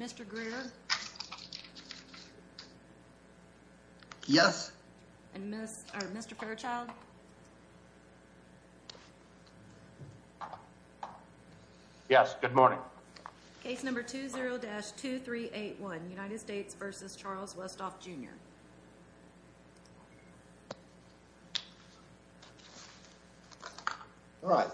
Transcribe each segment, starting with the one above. Mr. Greer? Yes. And Mr. Fairchild? Yes. Good morning. Case number 20-2381, United States v. Charles Westfall, Jr. All right.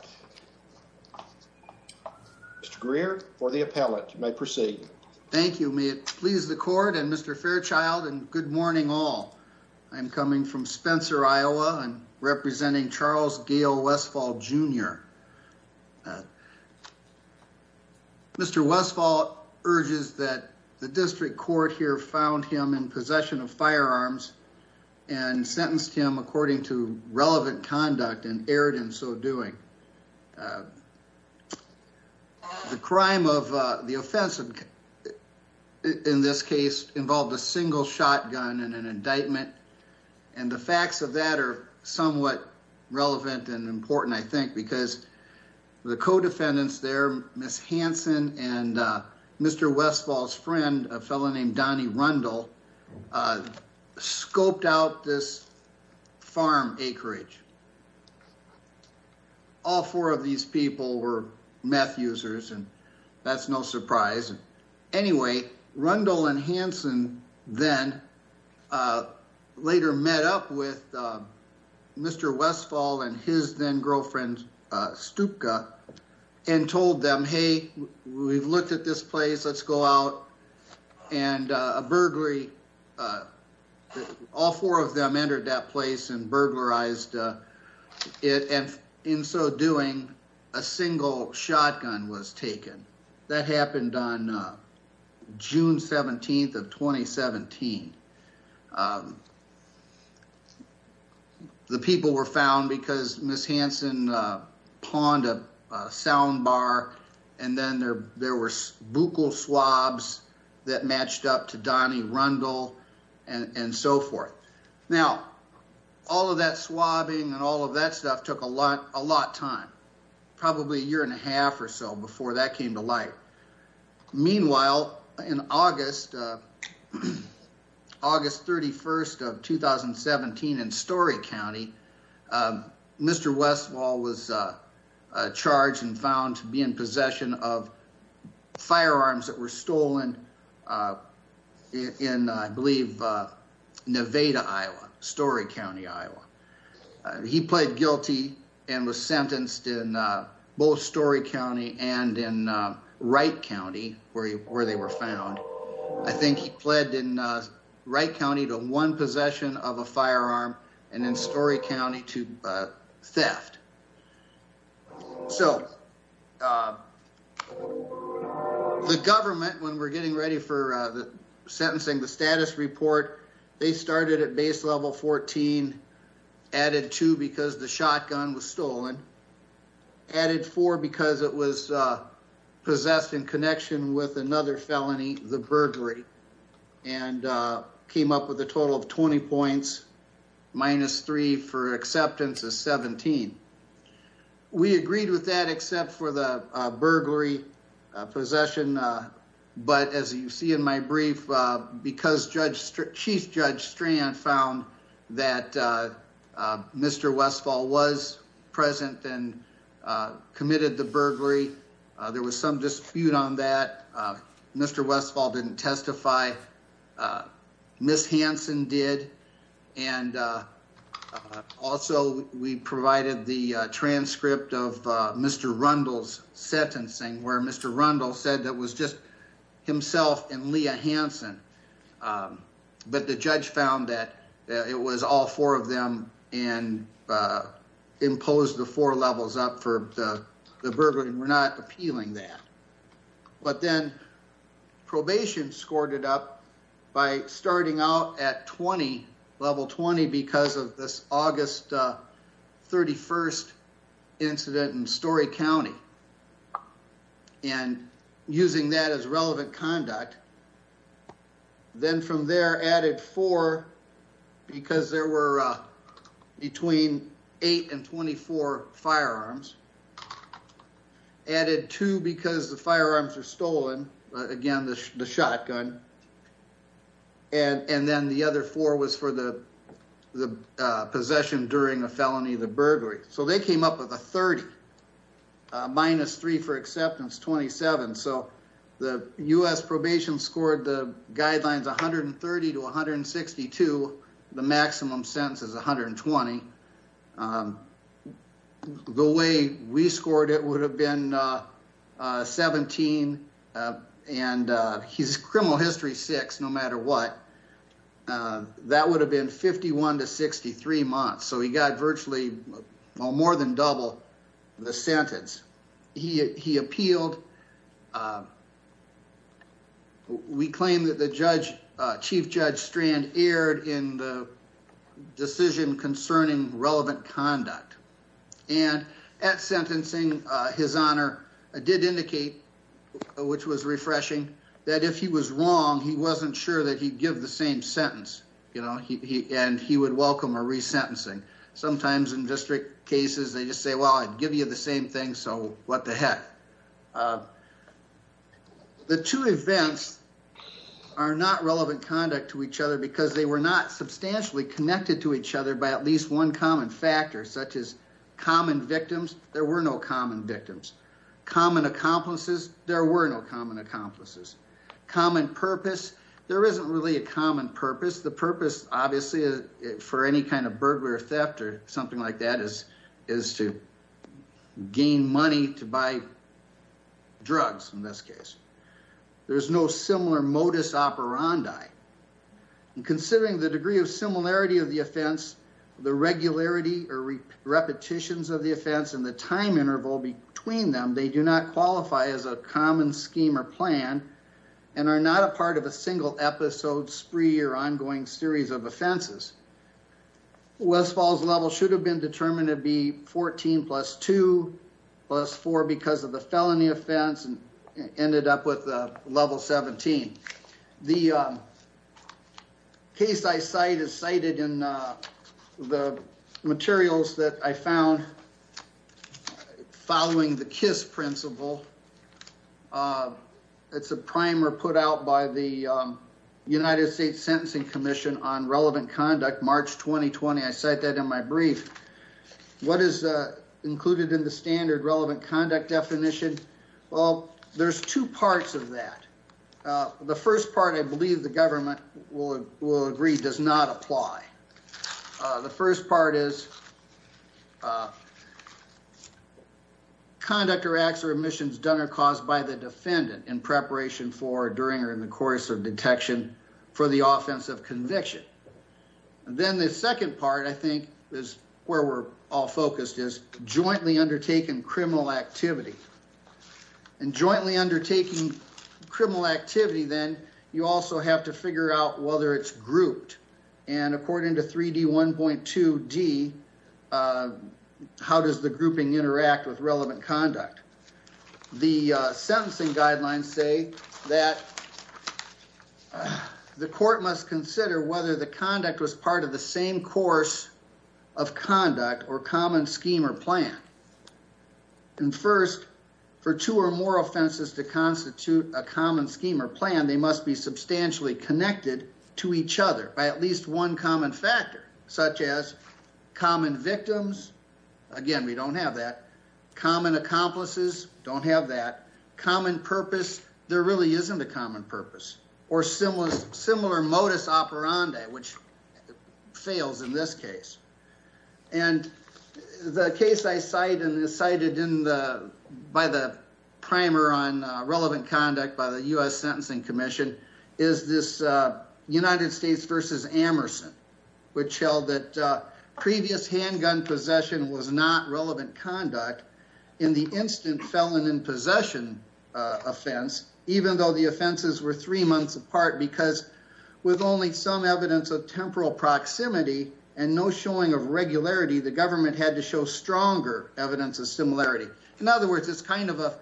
Mr. Greer for the appellate. You may proceed. Thank you. May it please the court and Mr. Fairchild and good morning all. I'm coming from Spencer, Iowa. I'm representing Charles Gale Westfall, Jr. Mr. Westfall urges that the district court here found him in possession of firearms and sentenced him according to relevant conduct and erred in so doing. The crime of the offense in this case involved a single shotgun and an indictment and the facts of that are somewhat relevant and important, I think, because the co-defendants there, Ms. Hanson and Mr. Westfall's friend, a fellow named Donnie Rundle, scoped out this farm acreage. All four of these people were meth users and that's no surprise. Anyway, Rundle and Hanson then later met up with Mr. Westfall and his then-girlfriend Stupka and told them, hey, we've looked at this place, let's go out. And a burglary, all four of them entered that place and burglarized it and in so doing, a single shotgun was taken. That happened on June 17th of 2017. The people were found because Ms. Hanson pawned a sound bar and then there were buccal swabs that matched up to Donnie Rundle and so forth. Now, all of that swabbing and all of that stuff took a lot of time, probably a year and a half or so before that came to light. Meanwhile, in August 31st of 2017 in Story County, Mr. Westfall was charged and found to be in possession of firearms that were stolen in, I believe, Nevada, Iowa, Story County, Iowa. He pled guilty and was sentenced in both Story County and in Wright County where they were found. I think he pled in Wright County to one possession of a firearm and in Story County to theft. So the government, when we're getting ready for they started at base level 14, added two because the shotgun was stolen, added four because it was possessed in connection with another felony, the burglary, and came up with a total of 20 points minus three for acceptance of 17. We agreed with that except for the burglary possession. But as you see in my brief, because Chief Judge Strand found that Mr. Westfall was present and committed the burglary, there was some dispute on that. Mr. Westfall didn't testify. Miss Hanson did. And also, we provided the transcript of Mr. Rundle's sentencing where Mr. Rundle said that it was just and Leah Hanson. But the judge found that it was all four of them and imposed the four levels up for the burglary. We're not appealing that. But then probation scored it up by starting out at 20, level 20, because of this August 31st incident in Story County. And using that as relevant conduct, then from there, added four because there were between eight and 24 firearms. Added two because the firearms were stolen, again, the shotgun. And then the other four was for the possession during a felony, the burglary. So they came up with a 30. Minus three for acceptance, 27. So the US probation scored the guidelines 130 to 162. The maximum sentence is 120. The way we scored it would have been 17. And he's criminal history six, no matter what. That would have been 51 to 63 months. So he got virtually more than double the sentence. He appealed. We claim that the chief judge strand erred in the decision concerning relevant conduct. And at sentencing, his honor did indicate, which was refreshing, that if he was wrong, he wasn't sure that he'd give the same sentence. And he would welcome a resentencing. Sometimes in district cases, they just say, well, I'd give you the same thing, so what the heck. The two events are not relevant conduct to each other because they were not substantially connected to each other by at least one common factor, such as common victims. There were no common accomplices. Common purpose, there isn't really a common purpose. The purpose, obviously, for any kind of burglary or theft or something like that is to gain money to buy drugs, in this case. There's no similar modus operandi. And considering the degree of similarity of the offense, the regularity or repetitions of the offense, and the time interval between them, they do not qualify as a common scheme or plan and are not a part of a single episode, spree, or ongoing series of offenses. West Falls level should have been determined to be 14 plus 2 plus 4 because of the felony offense and ended up with a level 17. The case I cite is cited in the following the KISS principle. It's a primer put out by the United States Sentencing Commission on relevant conduct, March 2020. I cite that in my brief. What is included in the standard relevant conduct definition? Well, there's two parts of that. The first part, I believe the government will agree, does not apply. The first part is conduct or acts or omissions done or caused by the defendant in preparation for, during, or in the course of detection for the offense of conviction. Then the second part, I think, is where we're all focused, is jointly undertaken criminal activity. And jointly undertaking criminal activity, then you also have to figure out whether it's grouped. And according to 3D1.2D, how does the grouping interact with relevant conduct? The sentencing guidelines say that the court must consider whether the conduct was part of the same course of conduct or common scheme or plan. And first, for two or more offenses to constitute a common scheme or plan, they must be substantially connected to each other by at least one common factor, such as common victims. Again, we don't have that. Common accomplices, don't have that. Common purpose, there really isn't a common purpose. Or similar modus operandi, which fails in this case. And the case I cite and is cited in the, by the primer on relevant conduct by the US Sentencing Commission, is this United States versus Amerson. Which held that previous handgun possession was not relevant conduct in the instant felon in possession offense, even though the offenses were three months apart, because with only some evidence of temporal proximity and no showing of regularity, the government had to show stronger evidence of similarity. In other words, it's kind of a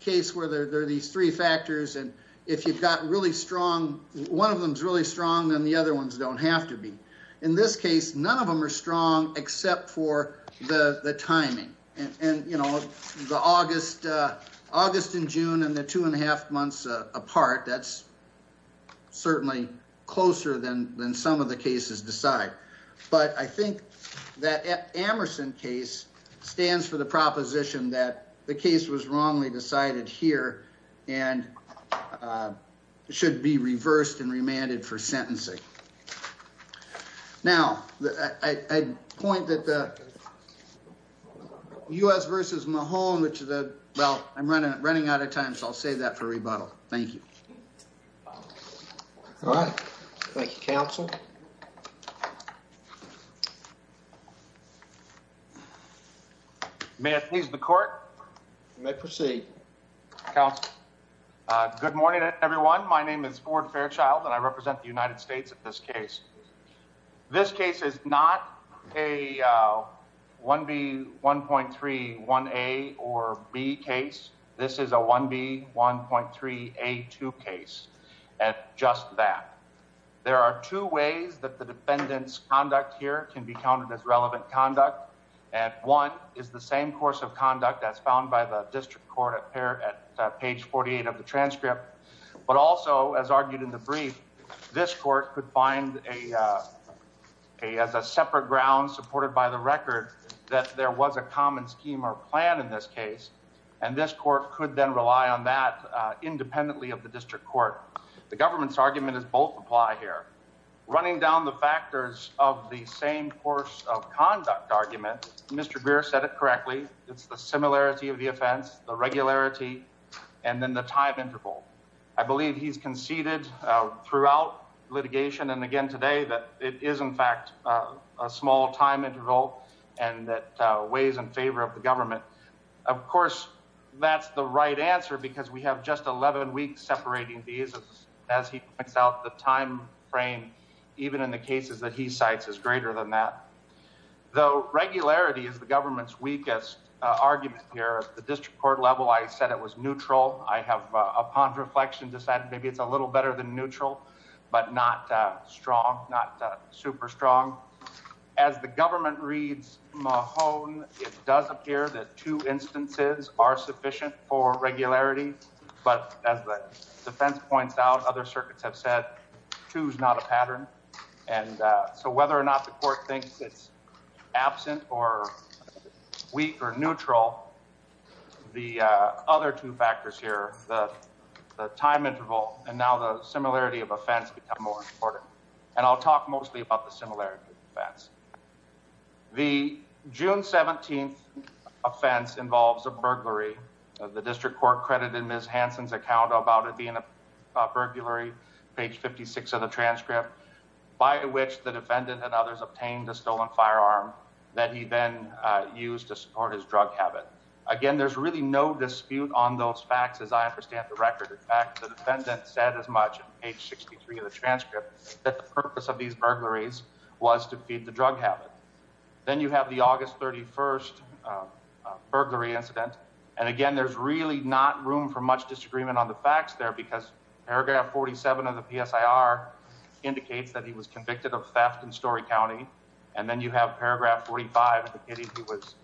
case where there are these three factors, and if you've got really strong, one of them's really strong, then the other ones don't have to be. In this case, none of them are strong except for the timing. And you know, the August and June and the two and a half months apart, that's certainly closer than some of the cases decide. But I think that Amerson case stands for the proposition that the case was wrongly decided here and should be reversed and remanded for sentencing. Now, I point that the US versus Mahone, which is a, well, I'm running out of time, so I'll save that for rebuttal. Thank you. All right. Thank you, counsel. May I please the court? You may proceed. Counsel. Good morning, everyone. My name is Ford Fairchild and I represent the United States in this case. This case is not a 1B, 1.3, 1A or B case. This is a 1B, 1.3, A2 case. And just that there are two ways that the defendant's conduct here can be counted as relevant conduct. And one is the same course of conduct as found by the district court at page 48 of the transcript. But also, as argued in the brief, this court could find as a separate ground supported by the record that there was a common scheme or plan in this case. And this court could then rely on that independently of the district court. The government's argument is both apply here. Running down the factors of the same course of conduct argument, Mr. Greer said it correctly. It's the similarity of the offense, the regularity, and then the time interval. I believe he's conceded throughout litigation and again today that it is, in fact, a small time interval and that weighs in favor of the government. Of course, that's the right answer because we have just 11 weeks separating these as he is greater than that. Though regularity is the government's weakest argument here, the district court level, I said it was neutral. I have, upon reflection, decided maybe it's a little better than neutral, but not strong, not super strong. As the government reads Mahone, it does appear that two instances are sufficient for regularity. But as the defense points out, other circuits have said two is not a pattern. So whether or not the court thinks it's absent or weak or neutral, the other two factors here, the time interval and now the similarity of offense become more important. And I'll talk mostly about the Hansen's account about it being a burglary, page 56 of the transcript, by which the defendant and others obtained a stolen firearm that he then used to support his drug habit. Again, there's really no dispute on those facts as I understand the record. In fact, the defendant said as much, page 63 of the transcript, that the purpose of these burglaries was to feed the drug habit. Then you have the August 31st burglary incident. And again, there's really not room for much disagreement on the facts there because paragraph 47 of the PSIR indicates that he was convicted of theft in Story County. And then you have paragraph 45 indicating he was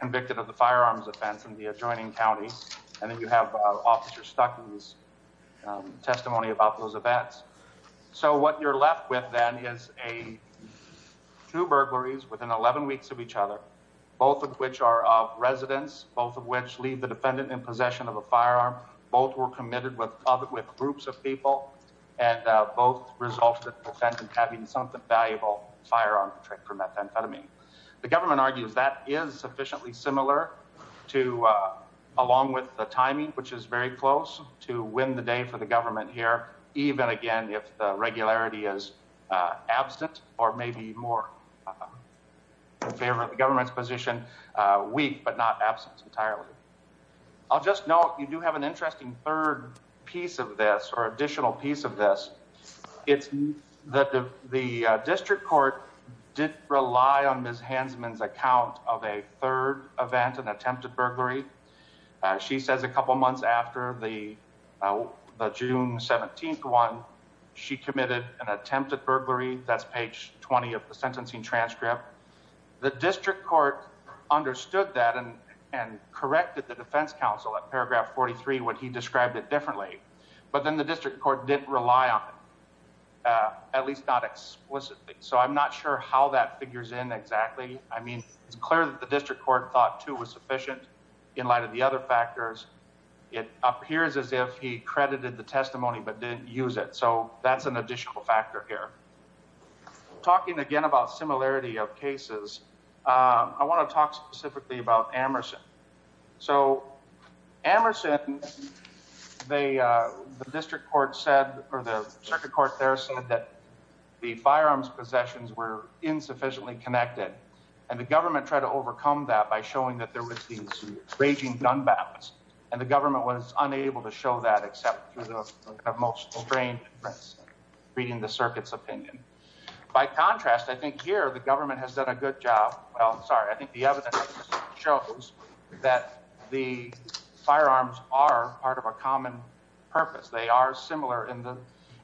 convicted of the firearms offense in the adjoining counties. And then you have officer Stuckey's testimony about those events. So what you're left with then is two burglaries within 11 weeks of each other, both of which are of residents, both of which leave the defendant in possession of a firearm. Both were committed with groups of people and both resulted in the defendant having something valuable, a firearm for methamphetamine. The government argues that is sufficiently similar to, along with the timing, which is very close to win the day for the government here, even again, if the regularity is absent or maybe more in favor of the government's position, weak, but not absent entirely. I'll just note, you do have an interesting third piece of this or additional piece of this. It's that the district court did rely on Ms. Hansman's account of a third event, an attempted burglary. She says a couple months after the June 17th one, she committed an attempted burglary. That's page 20 of the sentencing transcript. The district court understood that and corrected the defense counsel at paragraph 43 when he described it differently. But then the district court didn't rely on it, at least not explicitly. So I'm not sure how that figures in exactly. I mean, it's clear that the district court thought too was sufficient in light of the other factors. It appears as if he credited the testimony but didn't use it. So that's an additional factor here. Talking again about similarity of cases, I want to talk specifically about Amerson. So Amerson, the district court said or the circuit court there said that the firearms possessions were insufficiently connected and the government tried to overcome that by showing that there was these raging gun battles and the government was unable to show that except through the most strained reading the circuit's opinion. By contrast, I think here the government has done a good job. Well, I'm sorry. I think the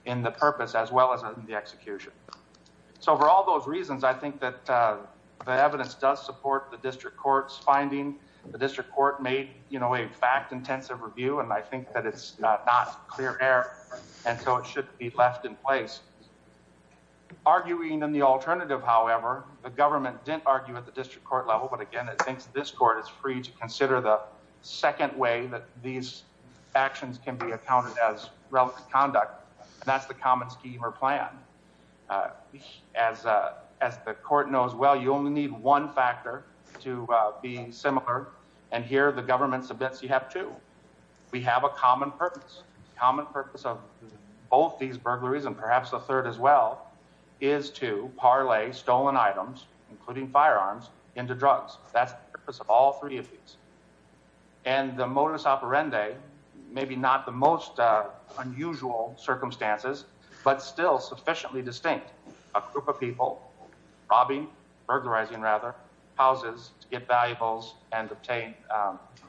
in the purpose as well as in the execution. So for all those reasons, I think that the evidence does support the district court's finding. The district court made a fact-intensive review and I think that it's not clear error and so it should be left in place. Arguing in the alternative, however, the government didn't argue at the district court level. But again, it thinks this court is free to consider the second way that these actions can be accounted as conduct and that's the common scheme or plan. As the court knows well, you only need one factor to be similar and here the government submits you have two. We have a common purpose. The common purpose of both these burglaries and perhaps a third as well is to parlay stolen items, including firearms, into drugs. That's the purpose of all three of these. And the modus operandi, maybe not the most unusual circumstances, but still sufficiently distinct. A group of people robbing, burglarizing rather, houses to get valuables and obtain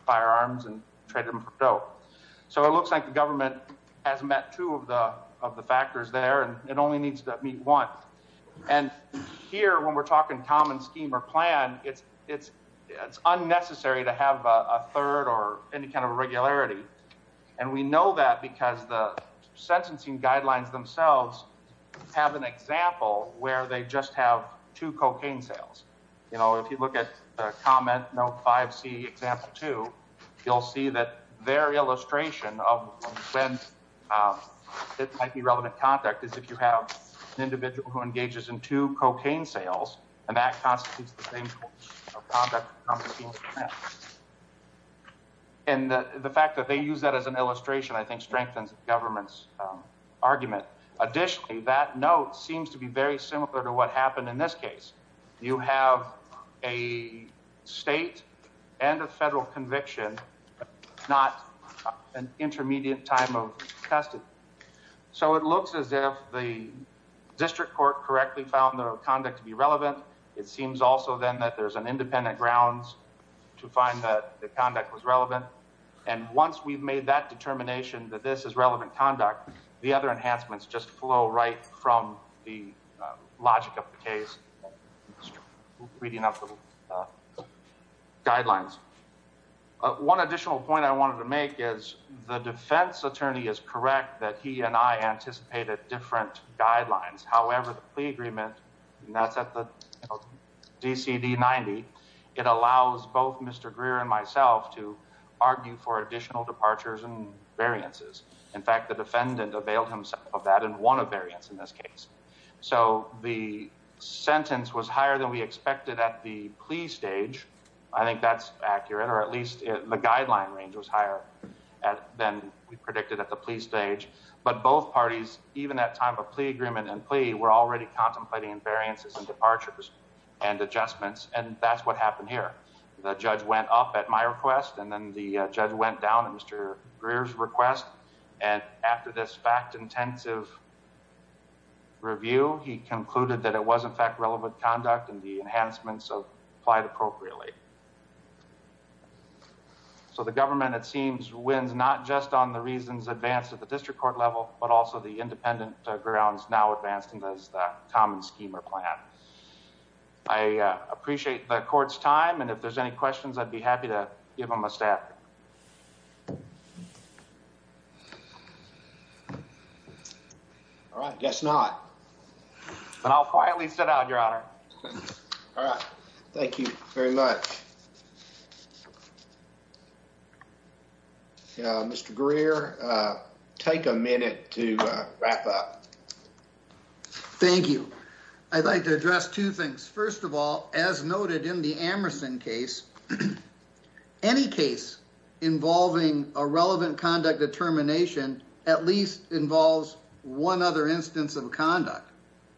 firearms and trade them. So it looks like the government has met two of the factors there and it only needs to meet one. And here when we're talking common scheme or plan, it's unnecessary to have a third or any regularity. And we know that because the sentencing guidelines themselves have an example where they just have two cocaine sales. If you look at comment note 5C example 2, you'll see that their illustration of when it might be relevant contact is if you have an individual who engages in two cocaine sales and that constitutes the same conduct. And the fact that they use that as an illustration I think strengthens the government's argument. Additionally, that note seems to be very similar to what happened in this case. You have a state and a federal conviction, not an intermediate time of custody. So it looks as if the district court correctly found the conduct to be relevant. It seems also then that there's independent grounds to find that the conduct was relevant. And once we've made that determination that this is relevant conduct, the other enhancements just flow right from the logic of the case, reading up the guidelines. One additional point I wanted to make is the defense attorney is correct that he and I anticipated different guidelines. However, the plea agreement, and that's at the DCD 90, it allows both Mr. Greer and myself to argue for additional departures and variances. In fact, the defendant availed himself of that and won a variance in this case. So the sentence was higher than we expected at the plea stage. I think that's accurate, or at least the guideline range was higher than we predicted at the plea stage. So the defense attorney, in addition to the agreement and plea, were already contemplating variances and departures and adjustments. And that's what happened here. The judge went up at my request, and then the judge went down at Mr. Greer's request. And after this fact-intensive review, he concluded that it was in fact relevant conduct and the enhancements applied appropriately. So the government, it seems, wins not just on the reasons advanced at the district court level, but also the independent grounds now advanced in the common scheme or plan. I appreciate the court's time, and if there's any questions, I'd be happy to give them a stab. All right. Guess not. Then I'll quietly sit out, Your Honor. All right. Thank you very much. Mr. Greer, take a minute to wrap up. Thank you. I'd like to address two things. First of all, as noted in the Amerson case, any case involving a relevant conduct determination at least involves one other instance of conduct.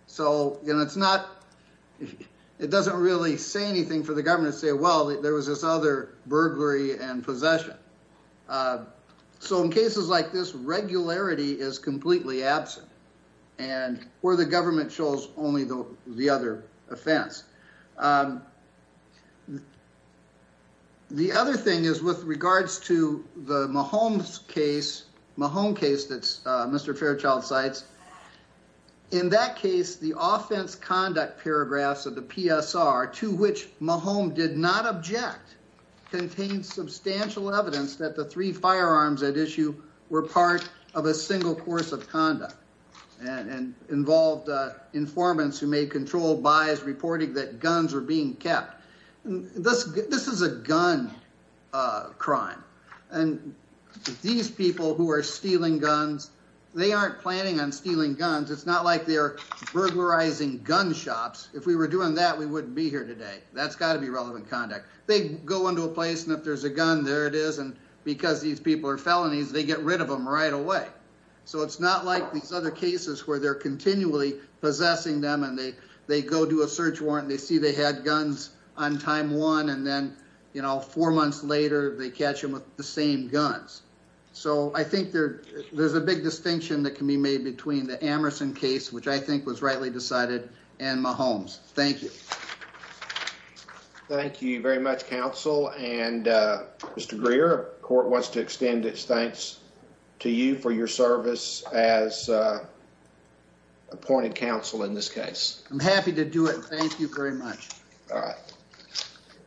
So it doesn't really say anything for the government to say, well, there was this other burglary and possession. So in cases like this, regularity is completely absent, and where the government shows only the other offense. The other thing is, with regards to the Mahomes case, Mahomes case that Mr. Fairchild cites, in that case, the offense conduct paragraphs of the PSR, to which Mahomes did not object, contained substantial evidence that the three firearms at issue were part of a single course of conduct and involved informants who made controlled buys reporting that guns were being kept. This is a gun crime, and these people who are stealing guns, they aren't planning on stealing guns. It's not like burglarizing gun shops. If we were doing that, we wouldn't be here today. That's got to be relevant conduct. They go into a place, and if there's a gun, there it is, and because these people are felonies, they get rid of them right away. So it's not like these other cases where they're continually possessing them, and they go do a search warrant, and they see they had guns on time one, and then four months later, they catch them with the same guns. So I think there's a big distinction that can be made between the Amerson case, which I think was rightly decided, and Mahomes. Thank you. Thank you very much, counsel, and Mr. Greer, the court wants to extend its thanks to you for your service as appointed counsel in this case. I'm happy to do it. Thank you very much. All right.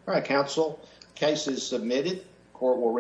All right, counsel, the case is submitted. The court will